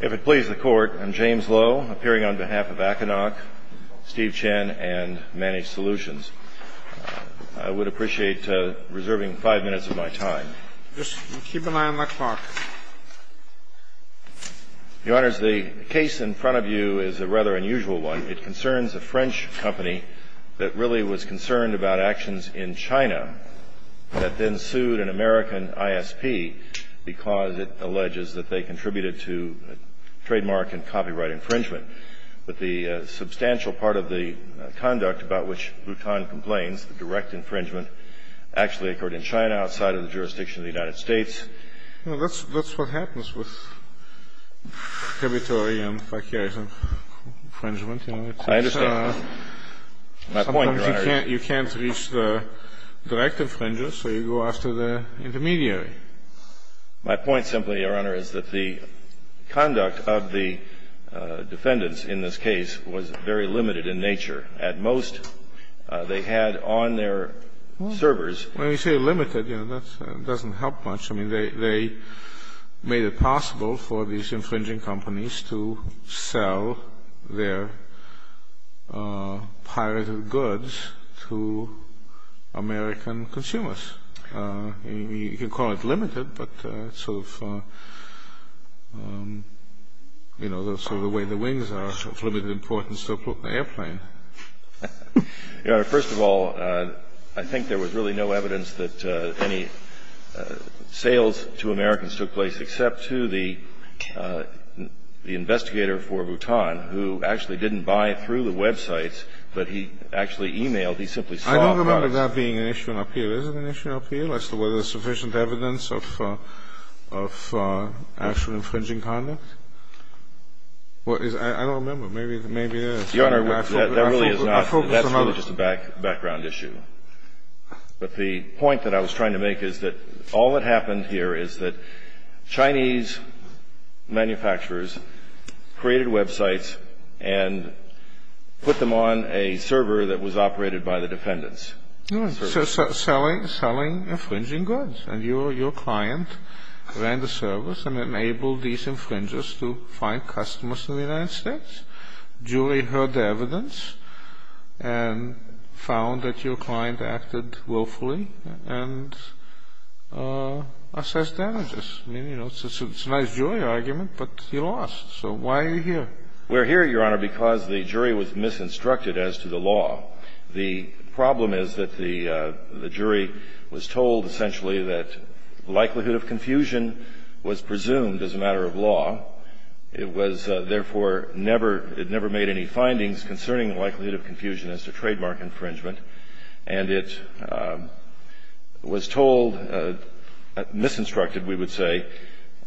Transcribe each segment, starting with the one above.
If it pleases the Court, I'm James Lowe, appearing on behalf of Akanoc, Steve Chen, and Managed Solutions. I would appreciate reserving five minutes of my time. Just keep an eye on my clock. Your Honors, the case in front of you is a rather unusual one. It concerns a French company that really was concerned about actions in China that then sued an American ISP because it alleges that they contributed to trademark and copyright infringement. But the substantial part of the conduct about which Vuitton complains, the direct infringement, actually occurred in China outside of the jurisdiction of the United States. Well, that's what happens with tributary and franchise infringement. I understand. Sometimes you can't reach the direct infringer, so you go after the intermediary. My point simply, Your Honor, is that the conduct of the defendants in this case was very limited in nature. At most, they had on their servers — Well, when you say limited, you know, that doesn't help much. I mean, they made it possible for these infringing companies to sell their pirated goods to American consumers. You can call it limited, but it's sort of the way the wings are of limited importance to an airplane. Your Honor, first of all, I think there was really no evidence that any sales to Americans took place except to the investigator for Vuitton, who actually didn't buy through the websites, but he actually emailed. I don't remember that being an issue in appeal. Is it an issue in appeal as to whether there's sufficient evidence of actual infringing conduct? I don't remember. Maybe there is. Your Honor, that really is not — I focus on others. That's really just a background issue. But the point that I was trying to make is that all that happened here is that Chinese manufacturers created websites and put them on a server that was operated by the defendants. Selling infringing goods. And your client ran the service and enabled these infringers to find customers in the United States. Julie heard the evidence and found that your client acted willfully and assessed damages. I mean, you know, it's a nice Julie argument, but he lost. So why are you here? We're here, Your Honor, because the jury was misinstructed as to the law. The problem is that the jury was told essentially that likelihood of confusion was presumed as a matter of law. It was therefore never — it never made any findings concerning the likelihood of confusion as to trademark infringement. And it was told, misinstructed, we would say,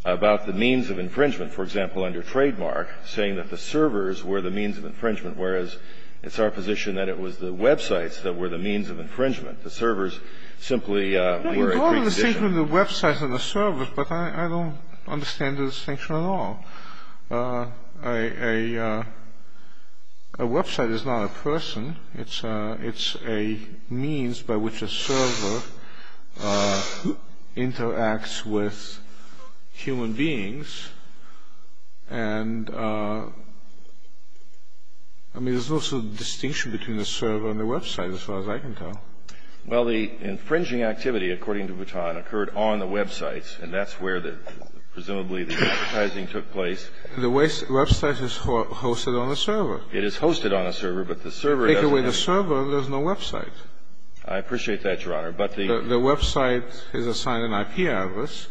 about the means of infringement. For example, under trademark, saying that the servers were the means of infringement, whereas it's our position that it was the websites that were the means of infringement. The servers simply were a precondition. We're going to the distinction of the websites and the servers, but I don't understand the distinction at all. A website is not a person. It's a means by which a server interacts with human beings. And, I mean, there's also a distinction between the server and the website, as far as I can tell. Well, the infringing activity, according to Vuitton, occurred on the websites, and that's where presumably the advertising took place. It is hosted on a server, but the server doesn't have — Take away the server, there's no website. I appreciate that, Your Honor, but the — The website is assigned an IP address.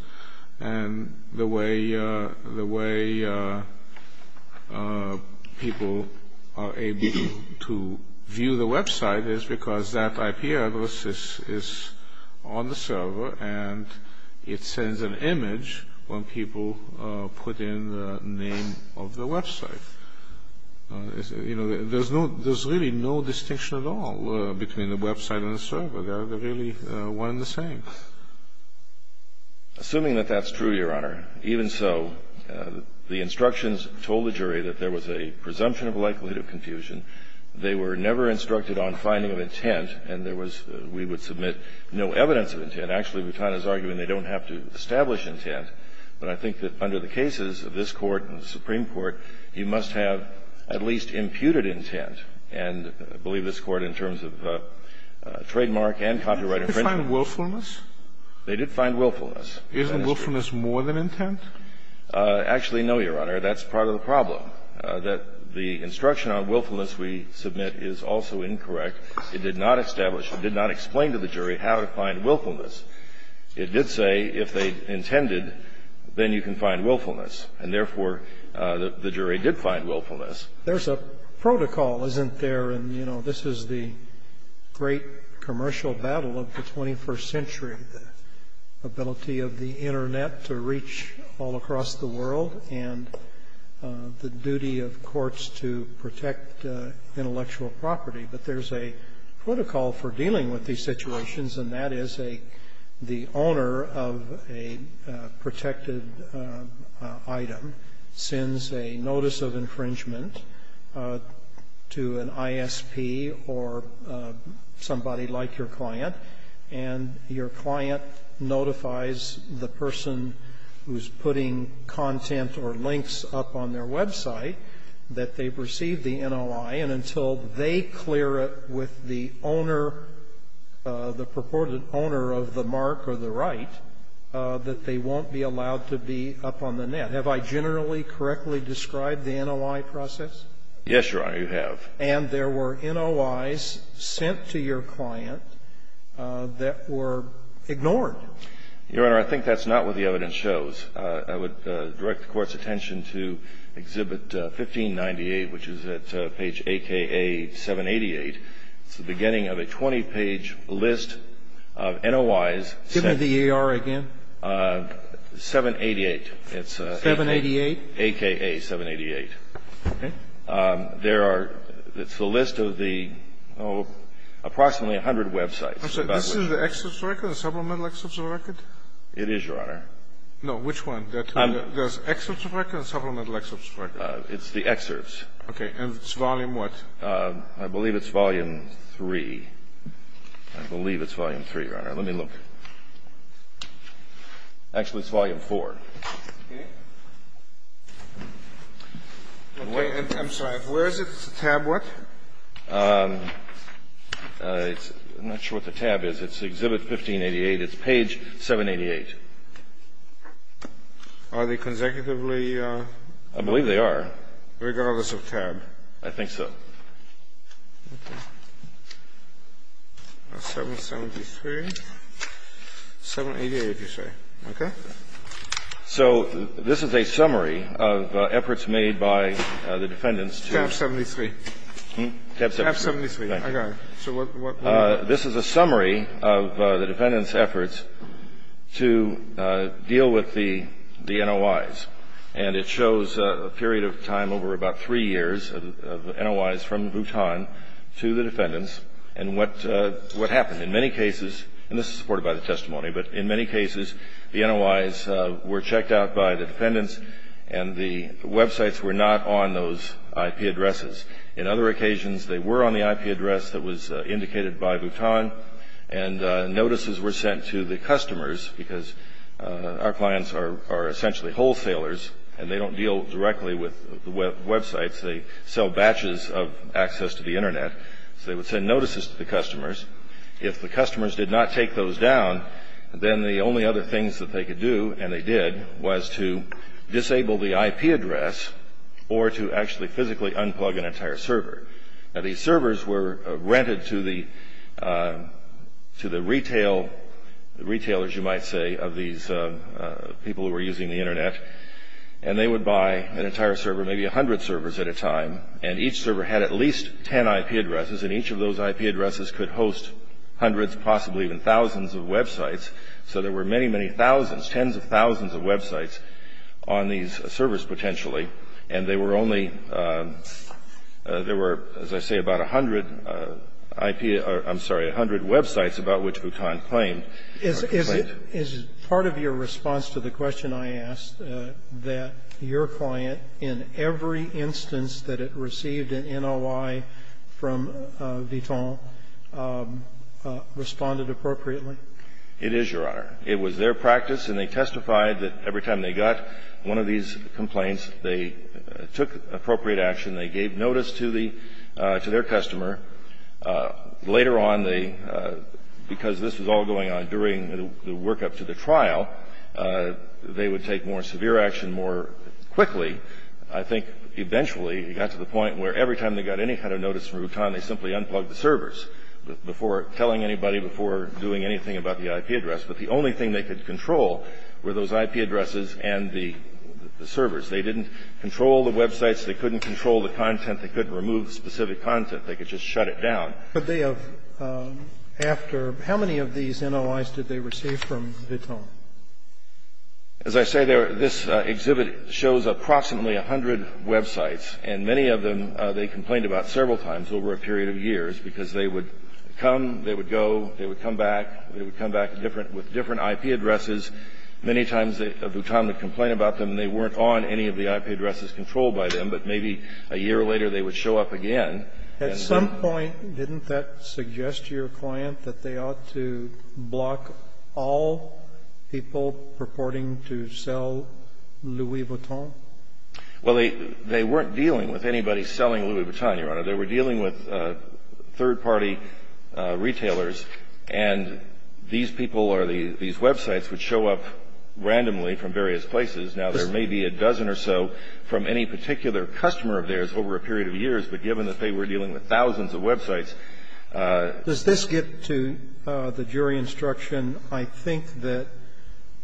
And the way people are able to view the website is because that IP address is on the server and it sends an image when people put in the name of the website. You know, there's really no distinction at all between the website and the server. They're really one and the same. Assuming that that's true, Your Honor, even so, the instructions told the jury that there was a presumption of likelihood of confusion. They were never instructed on finding of intent, and there was — we would submit no evidence of intent. Actually, Vuitton is arguing they don't have to establish intent, but I think that under the cases of this Court and the Supreme Court, you must have at least imputed intent. And I believe this Court, in terms of trademark and copyright infringement — Did they find willfulness? They did find willfulness. Isn't willfulness more than intent? Actually, no, Your Honor. That's part of the problem, that the instruction on willfulness we submit is also incorrect. It did not establish — it did not explain to the jury how to find willfulness. It did say if they intended, then you can find willfulness. And therefore, the jury did find willfulness. There's a protocol, isn't there? And, you know, this is the great commercial battle of the 21st century, the ability of the Internet to reach all across the world and the duty of courts to protect intellectual property. But there's a protocol for dealing with these situations, and that is a — the owner of a protected item sends a notice of infringement to an ISP or somebody like your client, and your client notifies the person who's putting content or links up on their website that they've received the NOI. And until they clear it with the owner, the purported owner of the mark or the right, that they won't be allowed to be up on the net. Have I generally correctly described the NOI process? Yes, Your Honor, you have. And there were NOIs sent to your client that were ignored. Your Honor, I think that's not what the evidence shows. I would direct the Court's attention to Exhibit 1598, which is at page AKA 788. It's the beginning of a 20-page list of NOIs. Give me the AR again. 788. 788? AKA 788. Okay. There are — it's the list of the approximately 100 websites. I'm sorry. This is the excess record, the supplemental excess record? It is, Your Honor. No, which one? The excess record or the supplemental excess record? It's the excess. Okay. And it's volume what? I believe it's volume 3. I believe it's volume 3, Your Honor. Let me look. Actually, it's volume 4. Okay. I'm sorry. Where is it? It's a tab what? I'm not sure what the tab is. It's Exhibit 1588. It's page 788. Are they consecutively? I believe they are. Regardless of tab? I think so. Okay. 773. 788, you say. Okay. So this is a summary of efforts made by the defendants to — Tab 73. Tab 73. Tab 73. I got it. So what — This is a summary of the defendants' efforts to deal with the NOIs, and it shows a period of time over about three years of NOIs from Bhutan to the defendants and what happened. In many cases — and this is supported by the testimony, but in many cases the NOIs were checked out by the defendants and the websites were not on those IP addresses. In other occasions they were on the IP address that was indicated by Bhutan and notices were sent to the customers because our clients are essentially wholesalers and they don't deal directly with websites. They sell batches of access to the Internet. So they would send notices to the customers. If the customers did not take those down, then the only other things that they could do, and they did, was to disable the IP address or to actually physically unplug an entire server. Now, these servers were rented to the retailers, you might say, of these people who were using the Internet, and they would buy an entire server, maybe 100 servers at a time, and each server had at least 10 IP addresses, and each of those IP addresses could host hundreds, possibly even thousands of websites. So there were many, many thousands, tens of thousands of websites on these servers potentially, and they were only, there were, as I say, about 100 IP or, I'm sorry, 100 websites about which Bhutan claimed. Roberts. Is part of your response to the question I asked that your client, in every instance that it received an NOI from Bhutan, responded appropriately? It is, Your Honor. It was their practice, and they testified that every time they got one of these complaints, they took appropriate action, they gave notice to the, to their customer. Later on, they, because this was all going on during the workup to the trial, they would take more severe action more quickly. I think eventually it got to the point where every time they got any kind of notice from Bhutan, they simply unplugged the servers before telling anybody, before doing anything about the IP address. But the only thing they could control were those IP addresses and the servers. They didn't control the websites. They couldn't control the content. They couldn't remove specific content. They could just shut it down. Could they have, after, how many of these NOIs did they receive from Bhutan? As I say, this exhibit shows approximately 100 websites, and many of them they complained about several times over a period of years, because they would come, they would go, they would come back, they would come back with different IP addresses. Many times Bhutan would complain about them, and they weren't on any of the IP addresses controlled by them. But maybe a year later they would show up again. At some point, didn't that suggest to your client that they ought to block all people purporting to sell Louis Vuitton? Well, they weren't dealing with anybody selling Louis Vuitton, Your Honor. They were dealing with third-party retailers, and these people or these websites would show up randomly from various places. Now, there may be a dozen or so from any particular customer of theirs over a period of years, but given that they were dealing with thousands of websites. Does this get to the jury instruction, I think, that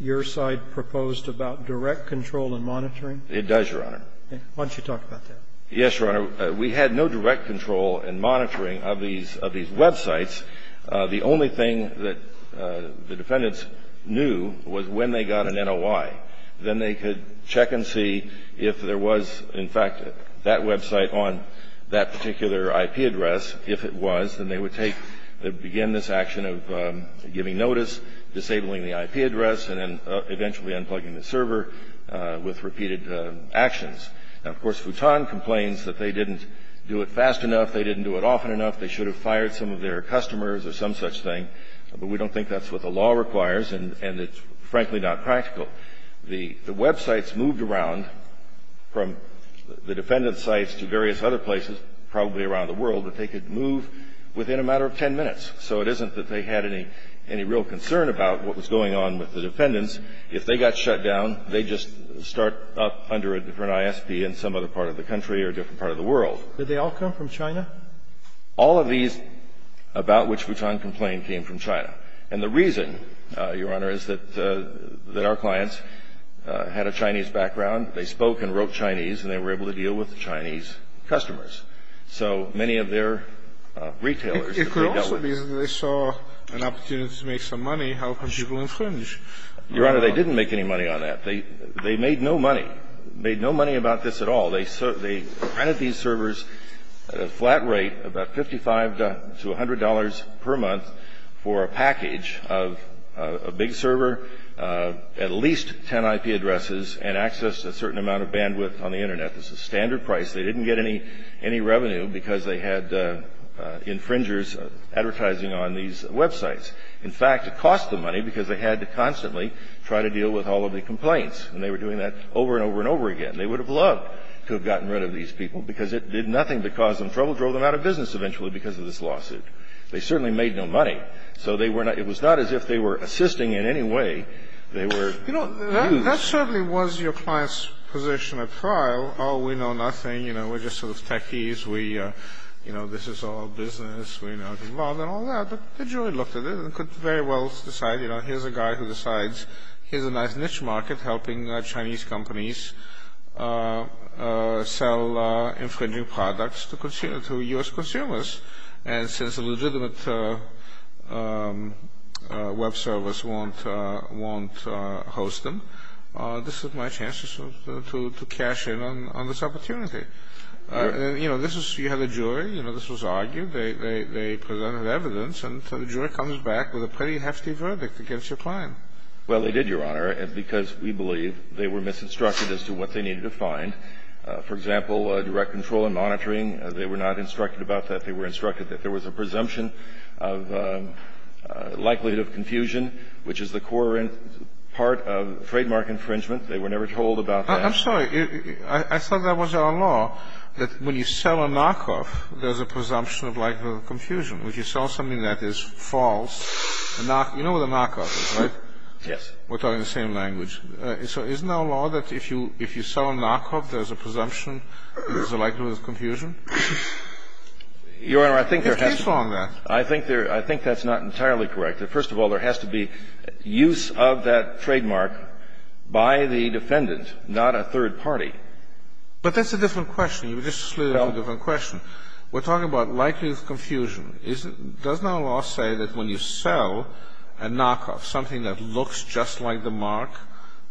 your side proposed about direct control and monitoring? It does, Your Honor. Why don't you talk about that? Yes, Your Honor. We had no direct control and monitoring of these websites. The only thing that the defendants knew was when they got an NOI. Then they could check and see if there was, in fact, that website on that particular IP address. If it was, then they would take the begin this action of giving notice, disabling the IP address, and then eventually unplugging the server with repeated actions. Now, of course, Vuitton complains that they didn't do it fast enough, they didn't do it often enough, they should have fired some of their customers or some such thing, but we don't think that's what the law requires, and it's, frankly, not practical. The websites moved around from the defendant's sites to various other places, probably around the world, that they could move within a matter of 10 minutes. So it isn't that they had any real concern about what was going on with the defendants. If they got shut down, they'd just start up under a different ISP in some other part of the country or a different part of the world. Did they all come from China? All of these about which Vuitton complained came from China. And the reason, Your Honor, is that our clients had a Chinese background. They spoke and wrote Chinese, and they were able to deal with Chinese customers. So many of their retailers that they dealt with. And the reason they didn't do it fast enough is because they saw an opportunity to make some money helping people infringe. Your Honor, they didn't make any money on that. They made no money. Made no money about this at all. They printed these servers at a flat rate, about $55 to $100 per month, for a package of a big server, at least 10 IP addresses, and access to a certain amount of bandwidth on the Internet. This is standard price. They didn't get any revenue because they had infringers advertising on these websites. In fact, it cost them money because they had to constantly try to deal with all of the complaints. And they were doing that over and over and over again. They would have loved to have gotten rid of these people because it did nothing but cause them trouble, drove them out of business eventually because of this lawsuit. They certainly made no money. So they were not – it was not as if they were assisting in any way. They were used. You know, that certainly was your client's position at trial. Oh, we know nothing. You know, we're just sort of techies. We – you know, this is all business. We know it's involved and all that. But the jury looked at it and could very well decide, you know, here's a guy who decides here's a nice niche market helping Chinese companies sell infringing products to U.S. consumers. And since a legitimate web service won't host them, this is my chance to cash in on this opportunity. You know, this is – you have a jury. You know, this was argued. They presented evidence. And so the jury comes back with a pretty hefty verdict against your client. Well, they did, Your Honor, because we believe they were misinstructed as to what they needed to find. For example, direct control and monitoring, they were not instructed about that. They were instructed that there was a presumption of likelihood of confusion, which is the core part of trademark infringement. They were never told about that. I'm sorry. I thought that was our law, that when you sell a knockoff, there's a presumption of likelihood of confusion. If you sell something that is false – you know what a knockoff is, right? Yes. We're talking the same language. So isn't our law that if you sell a knockoff, there's a presumption there's a likelihood of confusion? Your Honor, I think there has to be – I think there – I think that's not entirely correct. First of all, there has to be use of that trademark by the defendant, not a third party. But that's a different question. You just slid it into a different question. We're talking about likelihood of confusion. Doesn't our law say that when you sell a knockoff, something that looks just like the mark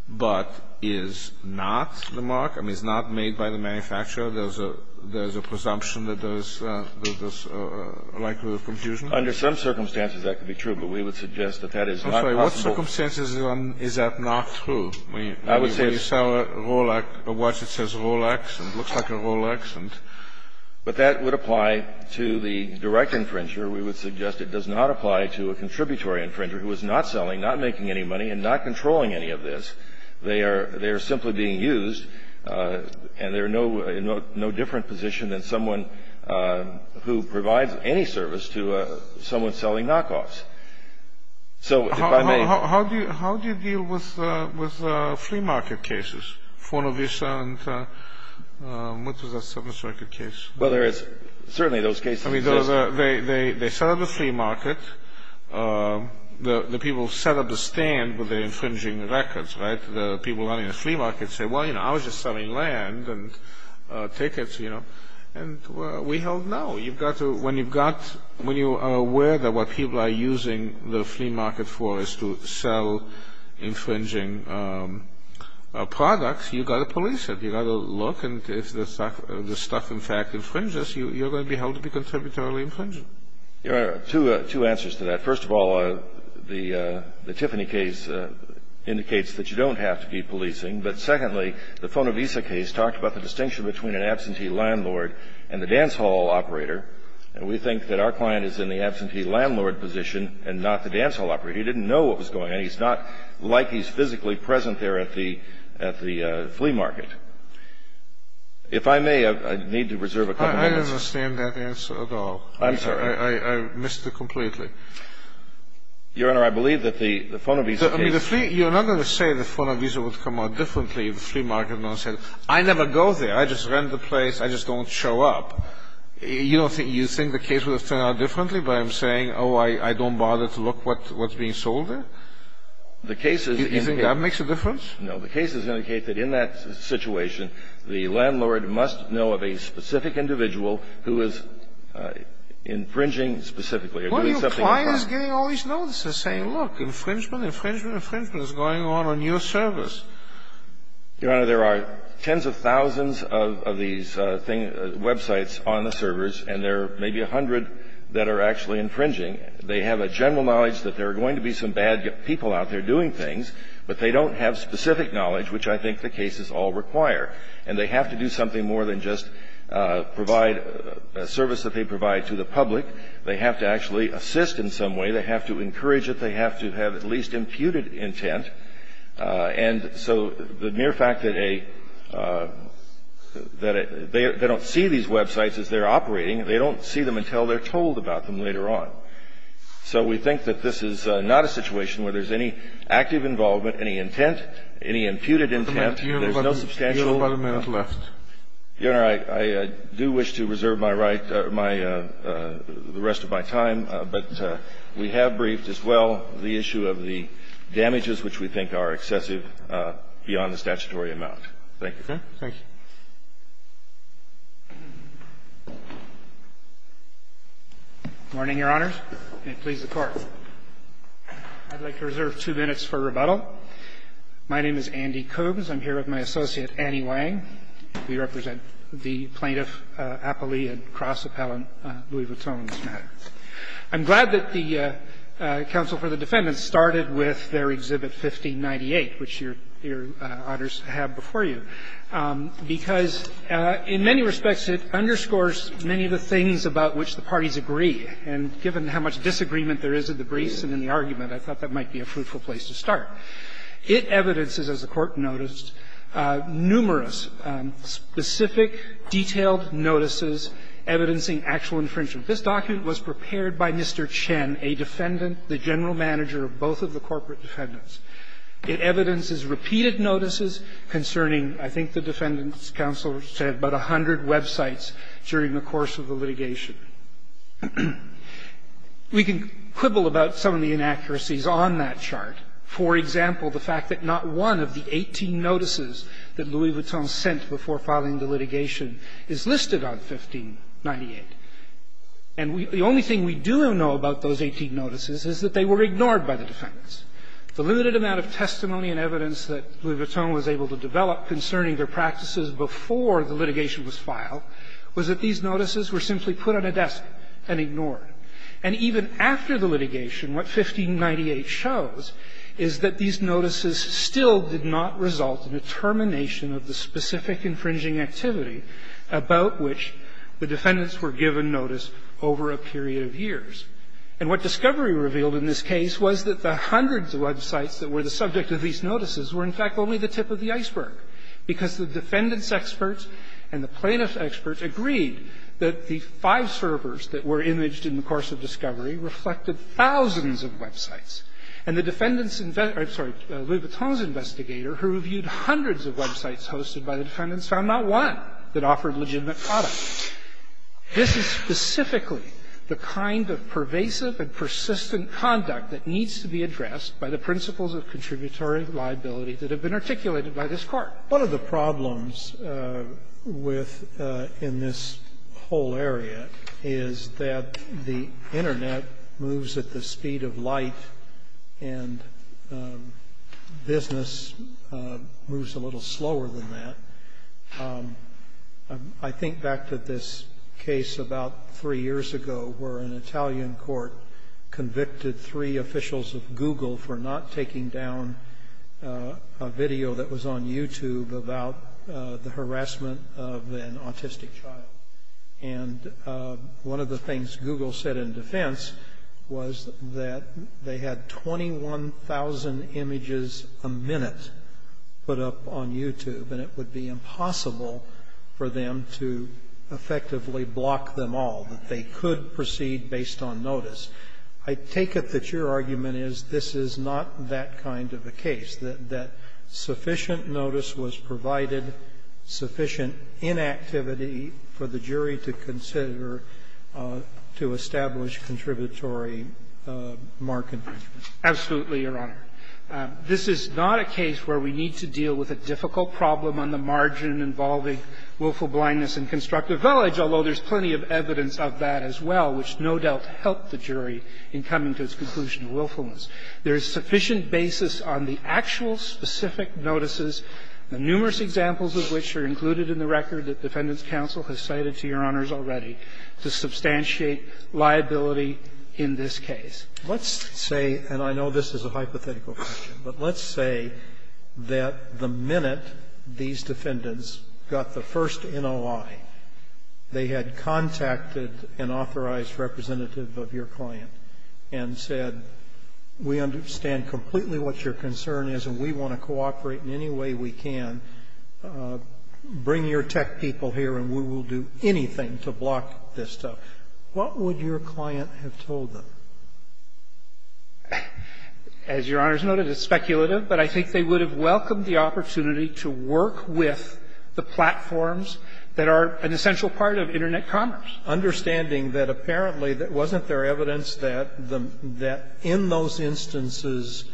but is not the mark? I mean, it's not made by the manufacturer. There's a presumption that there's likelihood of confusion. Under some circumstances, that could be true, but we would suggest that that is not possible. I'm sorry. What circumstances is that not true? I would say – When you sell a Rolex – a watch that says Rolex and looks like a Rolex and – But that would apply to the direct infringer. We would suggest it does not apply to a contributory infringer who is not selling, not making any money, and not controlling any of this. They are simply being used, and they're in no different position than someone who provides any service to someone selling knockoffs. So if I may – How do you deal with flea market cases, Fornovisa and – what was that? Seventh Circuit case. Well, there is – certainly those cases exist. I mean, they set up a flea market. The people set up a stand with their infringing records, right? The people running the flea market say, well, you know, I was just selling land and tickets, you know, and we held no. You've got to – when you've got – when you are aware that what people are using the flea market for is to sell infringing products, you've got to police it. You've got to look, and if the stuff, in fact, infringes, you're going to be held to be contributarily infringed. Two answers to that. First of all, the Tiffany case indicates that you don't have to be policing. But secondly, the Fornovisa case talked about the distinction between an absentee landlord and the dance hall operator. And we think that our client is in the absentee landlord position and not the dance hall operator. He didn't know what was going on. He's not like he's physically present there at the – at the flea market. If I may, I need to reserve a couple of minutes. I don't understand that answer at all. I'm sorry. I missed it completely. Your Honor, I believe that the Fornovisa case – I mean, the flea – you're not going to say the Fornovisa would come out differently if the flea market announced it. I never go there. I just rent the place. I just don't show up. You don't think – you think the case would have turned out differently by saying, oh, I don't bother to look what's being sold there? The case is – Do you think that makes a difference? No. The cases indicate that in that situation, the landlord must know of a specific individual who is infringing specifically or doing something – Well, your client is getting all these notices saying, look, infringement, infringement, infringement is going on on your service. Your Honor, there are tens of thousands of these things – websites on the servers, and there are maybe a hundred that are actually infringing. They have a general knowledge that there are going to be some bad people out there doing things, but they don't have specific knowledge, which I think the cases all require. And they have to do something more than just provide a service that they provide to the public. They have to actually assist in some way. They have to encourage it. They have to have at least imputed intent. And so the mere fact that a – that they don't see these websites as they're operating, they don't see them until they're told about them later on. So we think that this is not a situation where there's any active involvement, any intent, any imputed intent. There's no substantial – Your Honor, you have about a minute left. Your Honor, I do wish to reserve my right, my – the rest of my time, but we have briefed as well the issue of the damages which we think are excessive beyond the statutory amount. Thank you. Thank you. Good morning, Your Honors. May it please the Court. I'd like to reserve two minutes for rebuttal. My name is Andy Koobs. I'm here with my associate, Annie Wang. We represent the plaintiff, appellee, and cross-appellant Louis Vuitton in this matter. I'm glad that the counsel for the defendants started with their Exhibit 1598, which Your Honors have before you. Because in many respects it underscores many of the things about which the parties agree, and given how much disagreement there is in the briefs and in the argument, I thought that might be a fruitful place to start. It evidences, as the Court noticed, numerous specific, detailed notices evidencing actual infringement. This document was prepared by Mr. Chen, a defendant, the general manager of both of the corporate defendants. It evidences repeated notices concerning, I think the defendants' counsel said, about 100 websites during the course of the litigation. We can quibble about some of the inaccuracies on that chart. For example, the fact that not one of the 18 notices that Louis Vuitton sent before filing the litigation is listed on 1598. And the only thing we do know about those 18 notices is that they were ignored by the defendants. The limited amount of testimony and evidence that Louis Vuitton was able to develop concerning their practices before the litigation was filed was that these notices were simply put on a desk and ignored. And even after the litigation, what 1598 shows is that these notices still did not result in a termination of the specific infringing activity about which the defendants were given notice over a period of years. And what discovery revealed in this case was that the hundreds of websites that were the subject of these notices were, in fact, only the tip of the iceberg, because the defendants' experts and the plaintiffs' experts agreed that the five servers that were imaged in the course of discovery reflected thousands of websites. And the defendants' – I'm sorry, Louis Vuitton's investigator, who reviewed hundreds of websites hosted by the defendants, found not one that offered legitimate products. This is specifically the kind of pervasive and persistent conduct that needs to be addressed by the principles of contributory liability that have been articulated by this Court. Scalia. One of the problems with – in this whole area is that the Internet moves at the speed of light, and business moves a little slower than that. I think back to this case about three years ago where an Italian court convicted three officials of Google for not taking down a video that was on YouTube about the harassment of an autistic child. And one of the things Google said in defense was that they had 21,000 images a year, and it was impossible for them to effectively block them all, that they could proceed based on notice. I take it that your argument is this is not that kind of a case, that sufficient notice was provided, sufficient inactivity for the jury to consider to establish contributory mark infringement. Absolutely, Your Honor. This is not a case where we need to deal with a difficult problem on the margin involving willful blindness in Constructive Village, although there's plenty of evidence of that as well, which no doubt helped the jury in coming to its conclusion of willfulness. There is sufficient basis on the actual specific notices, numerous examples of which are included in the record that Defendant's counsel has cited to Your Honors already, to substantiate liability in this case. Let's say, and I know this is a hypothetical question, but let's say that the minute these defendants got the first NOI, they had contacted an authorized representative of your client and said, we understand completely what your concern is and we want to cooperate in any way we can, bring your tech people here and we will do anything to block this stuff. What would your client have told them? As Your Honors noted, it's speculative, but I think they would have welcomed the opportunity to work with the platforms that are an essential part of Internet commerce. Understanding that apparently there wasn't there evidence that in those instances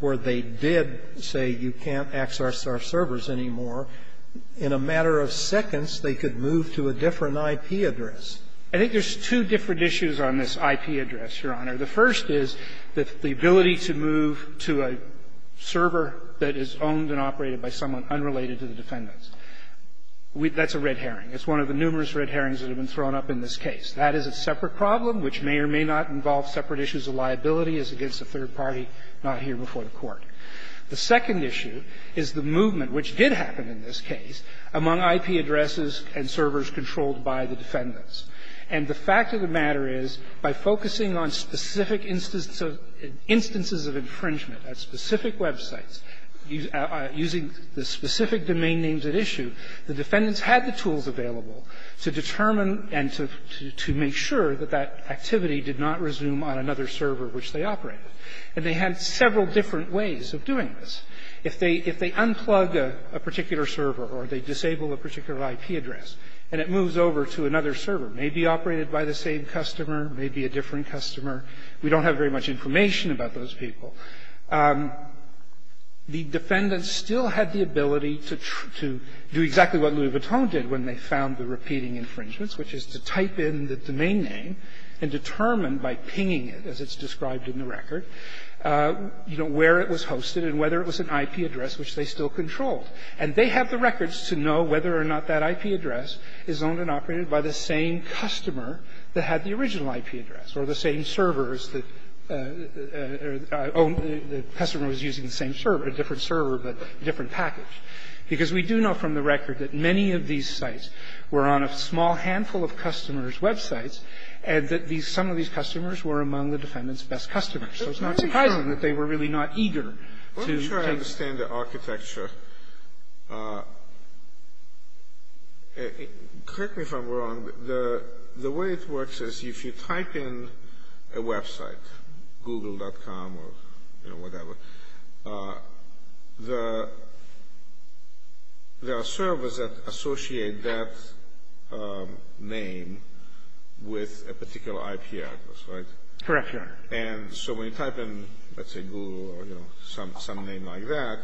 where they did say you can't access our servers anymore, in a matter of seconds they could move to a different IP address. I think there's two different issues on this IP address, Your Honor. The first is the ability to move to a server that is owned and operated by someone unrelated to the defendants. That's a red herring. It's one of the numerous red herrings that have been thrown up in this case. That is a separate problem, which may or may not involve separate issues of liability as against a third party not here before the Court. The second issue is the movement, which did happen in this case, among IP addresses and servers controlled by the defendants. And the fact of the matter is, by focusing on specific instances of infringement at specific websites, using the specific domain names at issue, the defendants had the tools available to determine and to make sure that that activity did not resume on another server which they operated. And they had several different ways of doing this. If they unplug a particular server or they disable a particular IP address and it moves over to another server, maybe operated by the same customer, maybe a different customer, we don't have very much information about those people, the defendants still had the ability to do exactly what Louis Vuitton did when they found the repeating infringements, which is to type in the domain name and determine by pinging it, as it's shown in the record, you know, where it was hosted and whether it was an IP address which they still controlled. And they have the records to know whether or not that IP address is owned and operated by the same customer that had the original IP address or the same servers that owned the customer that was using the same server, a different server, but a different package, because we do know from the record that many of these sites were on a small handful of customers' websites and that these – some of these customers were among the defendants' best customers. So it's not surprising that they were really not eager to – Let me try to understand the architecture. Correct me if I'm wrong, but the way it works is if you type in a website, Google.com or, you know, whatever, there are servers that associate that name with a particular IP address, right? Correct, Your Honor. And so when you type in, let's say, Google or, you know, some name like that,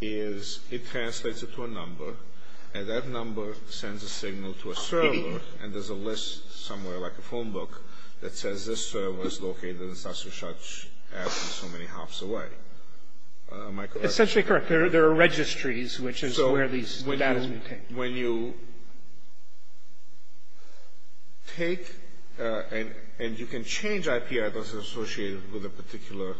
is it translates it to a number, and that number sends a signal to a server, and there's a list somewhere, like a phone book, that says this server is located in Sasha Shach's app so many hops away. Am I correct? Essentially correct. There are registries, which is where these data is maintained. When you take – and you can change IP addresses associated with a particular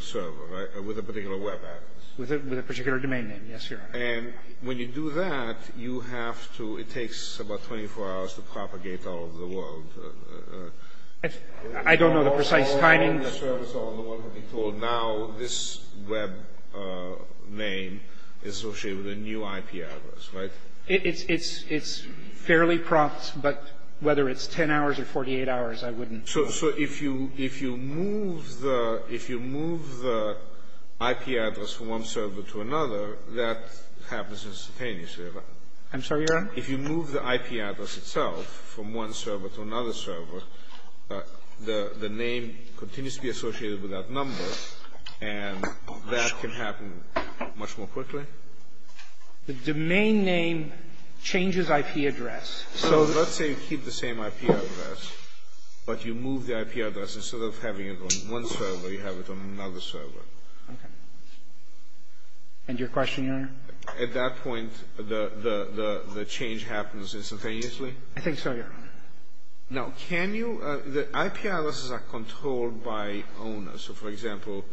server, right, or with a particular web address. With a particular domain name, yes, Your Honor. And when you do that, you have to – it takes about 24 hours to propagate all over the world. I don't know the precise timing. The servers are on the one who are being told now this web name is associated with a new IP address, right? It's fairly prompt, but whether it's 10 hours or 48 hours, I wouldn't – So if you move the IP address from one server to another, that happens instantaneously, right? I'm sorry, Your Honor? If you move the IP address itself from one server to another server, the name continues to be associated with that number, and that can happen much more quickly? The domain name changes IP address. So let's say you keep the same IP address, but you move the IP address. Instead of having it on one server, you have it on another server. Okay. And your question, Your Honor? At that point, the change happens instantaneously? I think so, Your Honor. Now, can you – the IP addresses are controlled by owners. So, for example,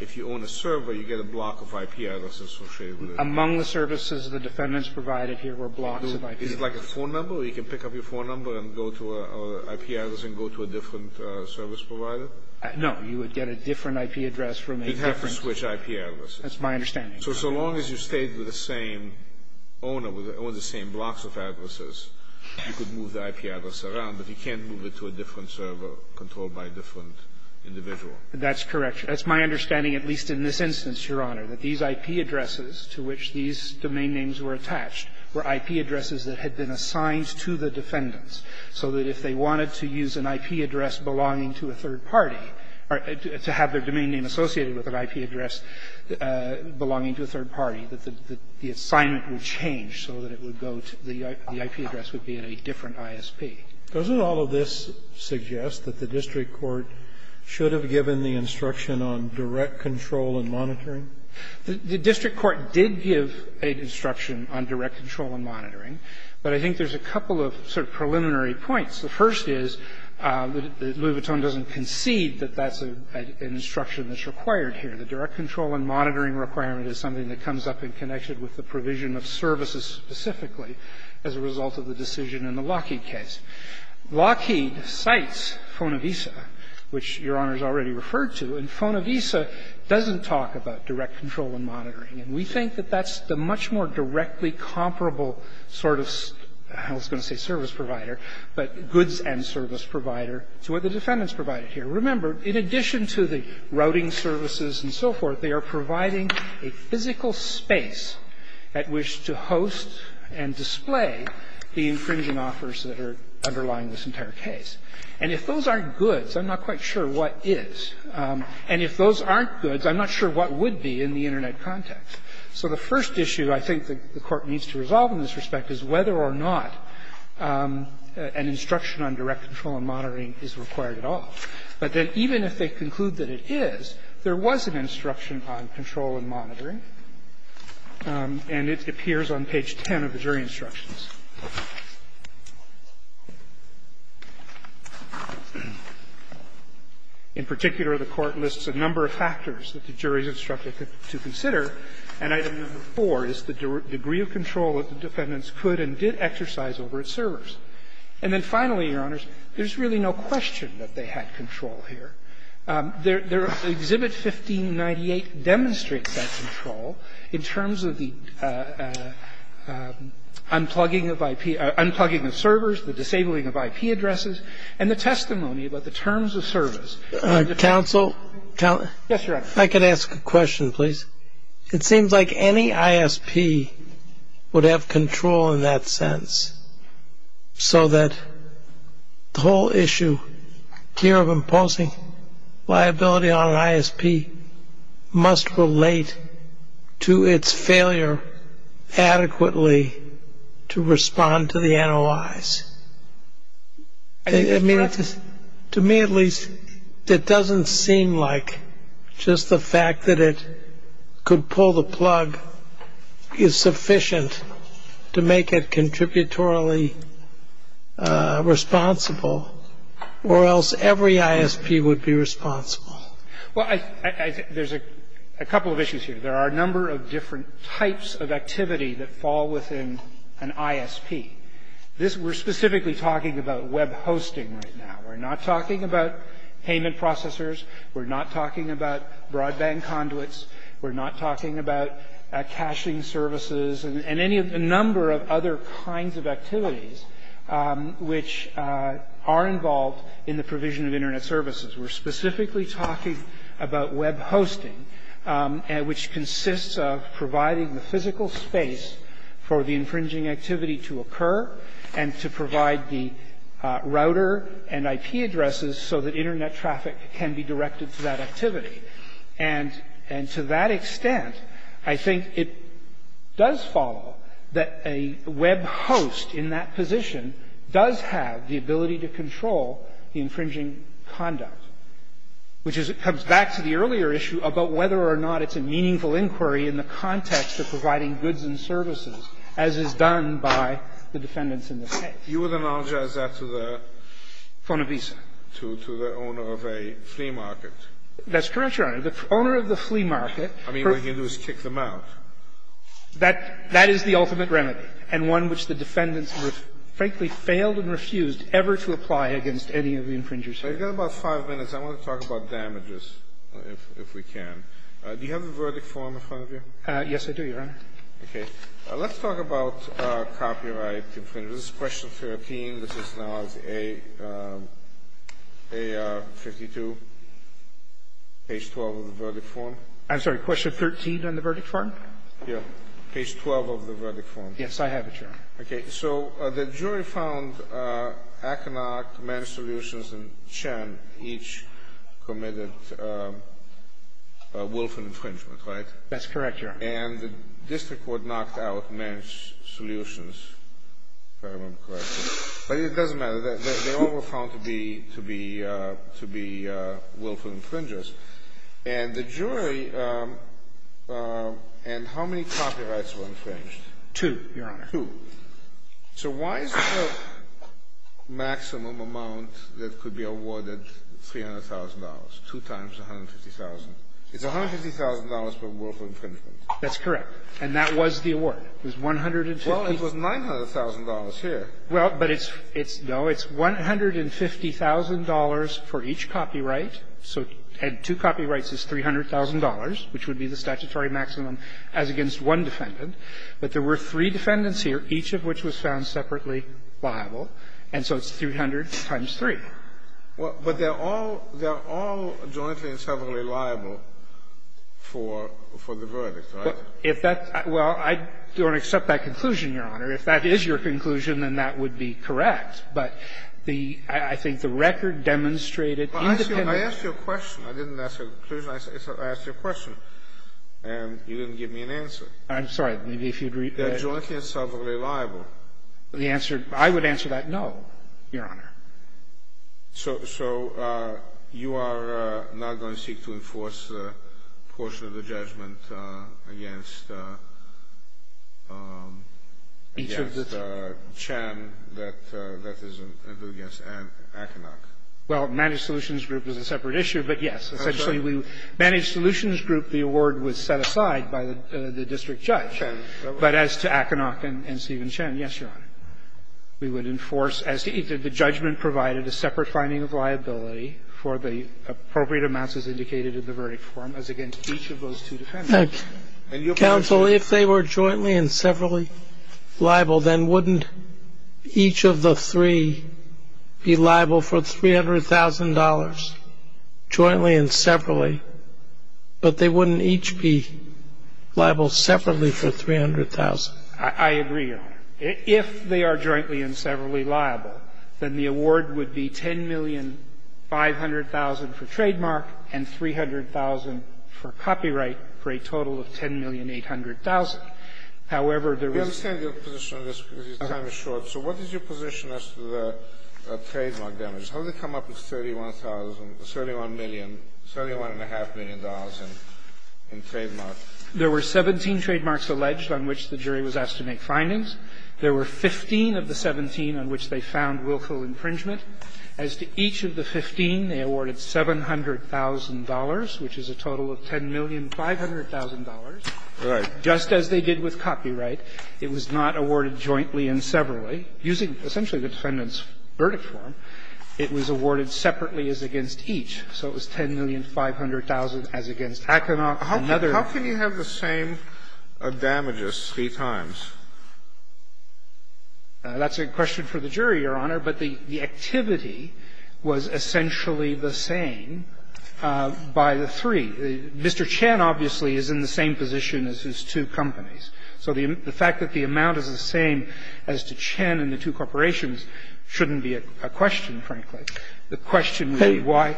if you own a server, you get a block of IP addresses associated with it. Among the services the defendants provided here were blocks of IP addresses. Is it like a phone number? You can pick up your phone number and go to a – or IP address and go to a different service provider? No. You would get a different IP address from a different – You'd have to switch IP addresses. That's my understanding. So as long as you stayed with the same owner, with all the same blocks of IP addresses around, but you can't move it to a different server controlled by a different individual? That's correct. That's my understanding, at least in this instance, Your Honor, that these IP addresses to which these domain names were attached were IP addresses that had been assigned to the defendants, so that if they wanted to use an IP address belonging to a third party, or to have their domain name associated with an IP address belonging to a third party, that the assignment would change so that it would go to the – the ISP. Doesn't all of this suggest that the district court should have given the instruction on direct control and monitoring? The district court did give an instruction on direct control and monitoring, but I think there's a couple of sort of preliminary points. The first is that Louis Vuitton doesn't concede that that's an instruction that's required here. The direct control and monitoring requirement is something that comes up in connection with the provision of services specifically as a result of the decision in the Lockheed case. Lockheed cites Fonavisa, which Your Honor has already referred to, and Fonavisa doesn't talk about direct control and monitoring. And we think that that's the much more directly comparable sort of, I was going to say service provider, but goods and service provider to what the defendants provided here. Remember, in addition to the routing services and so forth, they are providing a physical space at which to host and display the infringing offers that are underlying this entire case. And if those aren't goods, I'm not quite sure what is. And if those aren't goods, I'm not sure what would be in the Internet context. So the first issue I think the Court needs to resolve in this respect is whether or not an instruction on direct control and monitoring is required at all. But then even if they conclude that it is, there was an instruction on control and monitoring, and it appears on page 10 of the jury instructions. In particular, the Court lists a number of factors that the jury is instructed to consider, and item number 4 is the degree of control that the defendants could and did exercise over its servers. And then finally, Your Honors, there's really no question that they had control here. Exhibit 1598 demonstrates that control in terms of the unplugging of IP – unplugging of servers, the disabling of IP addresses, and the testimony about the terms of service. The counsel – counsel. Yes, Your Honor. I could ask a question, please. It seems like any ISP would have control in that sense. So that the whole issue here of imposing liability on an ISP must relate to its failure adequately to respond to the NOIs. I mean, to me at least, it doesn't seem like just the fact that it could pull the ISP out of control, but it's the fact that the ISP has to be morally responsible or else every ISP would be responsible. Well, I – there's a couple of issues here. There are a number of different types of activity that fall within an ISP. This – we're specifically talking about web hosting right now. We're not talking about payment processors. We're not talking about broadband conduits. We're not talking about caching services and any of the number of other kinds of activities which are involved in the provision of Internet services. We're specifically talking about web hosting, which consists of providing the physical space for the infringing activity to occur and to provide the router and IP addresses so that Internet traffic can be directed to that activity. And to that extent, I think it does follow that a web host in that position does have the ability to control the infringing conduct, which is – comes back to the earlier issue about whether or not it's a meaningful inquiry in the context of providing goods and services as is done by the defendants in this case. You would analogize that to the – Ponevisa. To the owner of a flea market. That's correct, Your Honor. The owner of the flea market – I mean, what he can do is kick them out. That – that is the ultimate remedy and one which the defendants, frankly, failed and refused ever to apply against any of the infringers here. We've got about five minutes. I want to talk about damages, if we can. Do you have a verdict form in front of you? Yes, I do, Your Honor. Okay. Let's talk about copyright infringers. This is question 13. This is now as a – a 52. Page 12 of the verdict form. I'm sorry. Question 13 on the verdict form? Yeah. Page 12 of the verdict form. Yes, I have it, Your Honor. Okay. So the jury found Aconok, Mench Solutions, and Chen each committed a wolf infringement, right? That's correct, Your Honor. And the district court knocked out Mench Solutions, if I remember correctly. But it doesn't matter. They all were found to be – to be – to be willful infringers. And the jury – and how many copyrights were infringed? Two, Your Honor. Two. So why is the maximum amount that could be awarded $300,000, two times $150,000? It's $150,000 per wolf infringement. That's correct. And that was the award. It was 150 – Well, it was $900,000 here. Well, but it's – it's – no, it's $150,000 for each copyright. So two copyrights is $300,000, which would be the statutory maximum as against one defendant. But there were three defendants here, each of which was found separately liable. And so it's 300 times 3. Well, but they're all – they're all jointly and separately liable for – for the verdict, right? If that – well, I don't accept that conclusion, Your Honor. If that is your conclusion, then that would be correct. But the – I think the record demonstrated independent – Well, I asked you a question. I didn't ask a conclusion. I asked you a question, and you didn't give me an answer. I'm sorry. Maybe if you'd read – They're jointly and separately liable. The answer – I would answer that no, Your Honor. So – so you are not going to seek to enforce a portion of the judgment against – Each of the three. Against Chen that – that is a – and against Aconoc. Well, Managed Solutions Group is a separate issue, but yes. Essentially, we – Managed Solutions Group, the award was set aside by the district judge. But as to Aconoc and Stephen Chen, yes, Your Honor, we would enforce as to either the judgment provided, a separate finding of liability for the appropriate amounts as indicated in the verdict form as against each of those two defendants. And you'll be able to see – Counsel, if they were jointly and separately liable, then wouldn't each of the three be liable for $300,000 jointly and separately, but they wouldn't each be liable separately for $300,000? I – I agree, Your Honor. If they are jointly and separately liable, then the award would be $10,500,000 for trademark and $300,000 for copyright for a total of $10,800,000. However, there is no – We understand your position on this because your time is short. So what is your position as to the trademark damages? How did they come up with $31,000 – $31 million, $31.5 million in trademarks? There were 17 trademarks alleged on which the jury was asked to make findings. There were 15 of the 17 on which they found willful infringement. As to each of the 15, they awarded $700,000, which is a total of $10,500,000. Right. Just as they did with copyright. It was not awarded jointly and separately. Using essentially the defendant's verdict form, it was awarded separately as against each. So it was $10,500,000 as against Hackenauck and another. How can you have the same damages three times? That's a question for the jury, Your Honor. But the activity was essentially the same by the three. Mr. Chen, obviously, is in the same position as his two companies. So the fact that the amount is the same as to Chen and the two corporations shouldn't be a question, frankly. The question would be why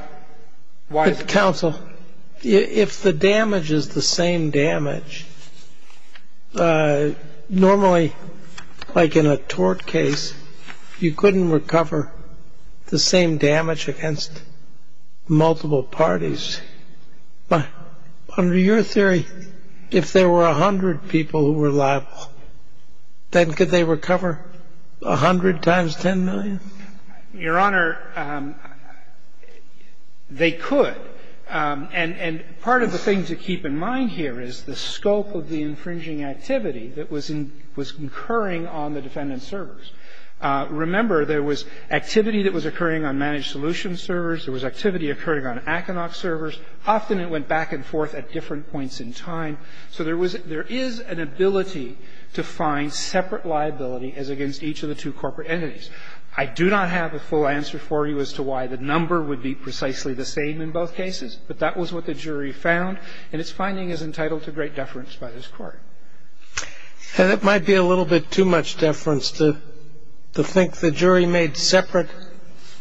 is it the same? If the damage is the same damage, normally, like in a tort case, you couldn't recover the same damage against multiple parties. But under your theory, if there were 100 people who were liable, then could they recover 100 times $10,000,000? Your Honor, they could. And part of the thing to keep in mind here is the scope of the infringing activity that was incurring on the defendant's servers. Remember, there was activity that was occurring on Managed Solutions servers. There was activity occurring on Hackenauck servers. Often it went back and forth at different points in time. So there was an ability to find separate liability as against each of the two corporate entities. I do not have a full answer for you as to why the number would be precisely the same in both cases. But that was what the jury found, and its finding is entitled to great deference by this Court. And it might be a little bit too much deference to think the jury made separate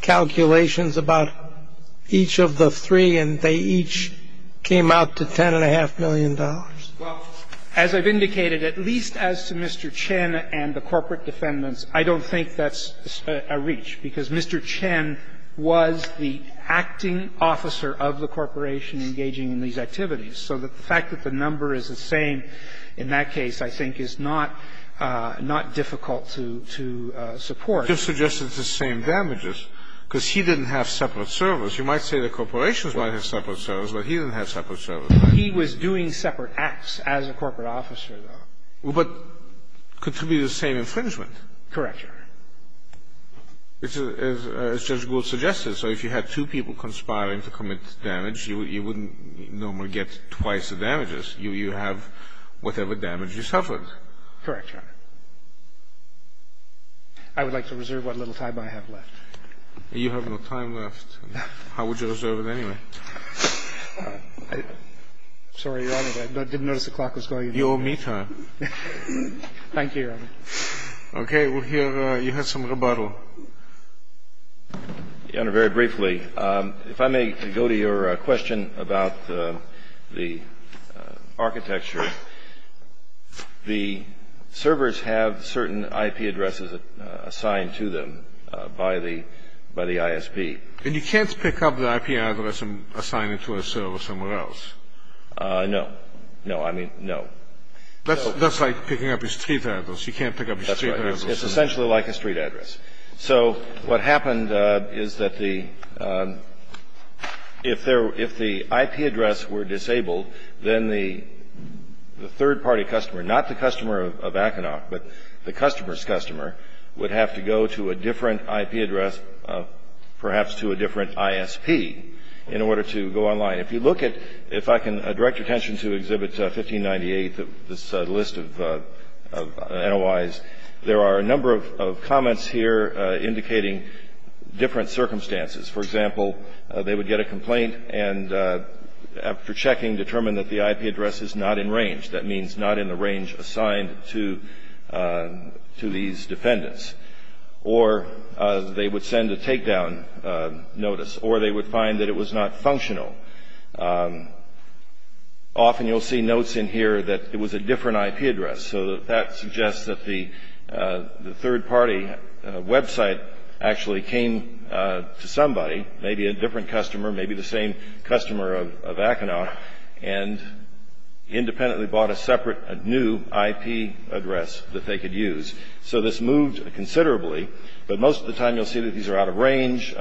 calculations about each of the three, and they each came out to $10.5 million. Well, as I've indicated, at least as to Mr. Chen and the corporate defendants, I don't think that's a reach, because Mr. Chen was the acting officer of the corporation engaging in these activities. So the fact that the number is the same in that case, I think, is not not difficult to support. It just suggests it's the same damages, because he didn't have separate servers. You might say the corporations might have separate servers, but he didn't have separate servers. He was doing separate acts as a corporate officer, though. But could it be the same infringement? Correct, Your Honor. As Judge Gould suggested, so if you had two people conspiring to commit damage, you wouldn't normally get twice the damages. You have whatever damage you suffered. Correct, Your Honor. I would like to reserve what little time I have left. You have no time left. How would you reserve it anyway? Sorry, Your Honor, but I didn't notice the clock was going. You owe me time. Thank you, Your Honor. OK, well, here you have some rebuttal. Your Honor, very briefly, if I may go to your question about the architecture, the servers have certain IP addresses assigned to them by the ISP. And you can't pick up the IP address and assign it to a server somewhere else? No. No, I mean, no. That's like picking up a street address. You can't pick up a street address. It's essentially like a street address. So what happened is that if the IP address were disabled, then the third party customer, not the customer of Aconoc, but the customer's customer, would have to go to a different IP address, perhaps to a different ISP, in order to go online. If you look at, if I can direct your attention to Exhibit 1598, this list of NOIs, there are a number of comments here indicating different circumstances. For example, they would get a complaint and, after checking, determine that the IP address is not in range. That means not in the range assigned to these defendants. Or they would send a takedown notice. Or they would find that it was not functional. Often you'll see notes in here that it was a different IP address. So that suggests that the third party website actually came to somebody, maybe a different customer, maybe the same customer of Aconoc, and independently bought a separate new IP address that they could use. So this moved considerably. But most of the time you'll see that these are out of range,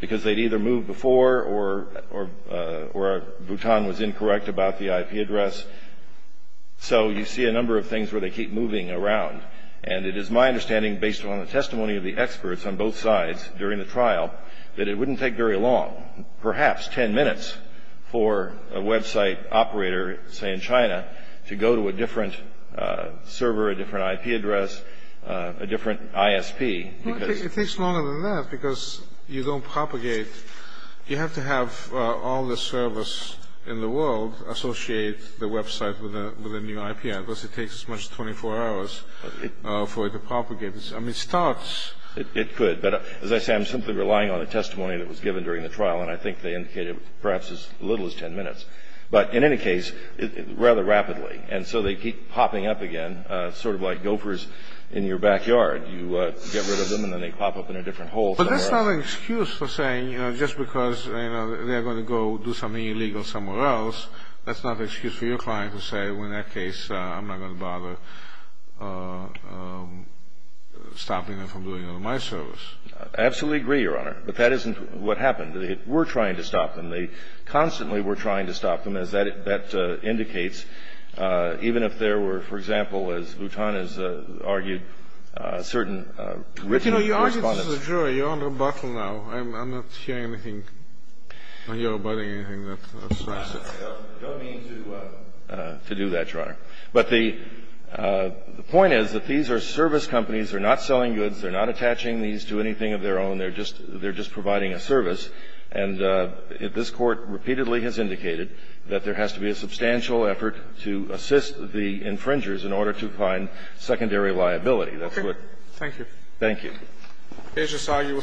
because they'd either moved before, or Bhutan was incorrect about the IP address. So you see a number of things where they keep moving around. And it is my understanding, based on the testimony of the experts on both sides during the trial, that it wouldn't take very long, perhaps 10 minutes, for a website operator, say in China, to go to a different server, a different IP address, a different ISP. It takes longer than that, because you don't propagate. You have to have all the servers in the world associate the website with a new IP address, it takes as much as 24 hours for it to propagate. I mean, it starts, it could. But as I say, I'm simply relying on the testimony that was given during the trial, and I think they indicated perhaps as little as 10 minutes. But in any case, rather rapidly. And so they keep popping up again, sort of like gophers in your backyard. You get rid of them, and then they pop up in a different hole somewhere else. But that's not an excuse for saying, just because they're going to go do something illegal somewhere else, that's not an excuse for your client to say, well, in that case, I'm not going to bother stopping them from doing my service. I absolutely agree, Your Honor. But that isn't what happened. We're trying to stop them. They constantly were trying to stop them, as that indicates. Even if there were, for example, as Votan has argued, certain written respondents. You know, you argued this as a jury. You're on rebuttal now. I'm not hearing anything, or you're abiding anything that's offensive. I don't mean to do that, Your Honor. But the point is that these are service companies. They're not selling goods. They're not attaching these to anything of their own. They're just providing a service. And this Court repeatedly has indicated that there has to be a substantial effort to assist the infringers in order to find secondary liability. That's what we're trying to do. Thank you. Thank you. The case is argued with 10 minutes. We're adjourned.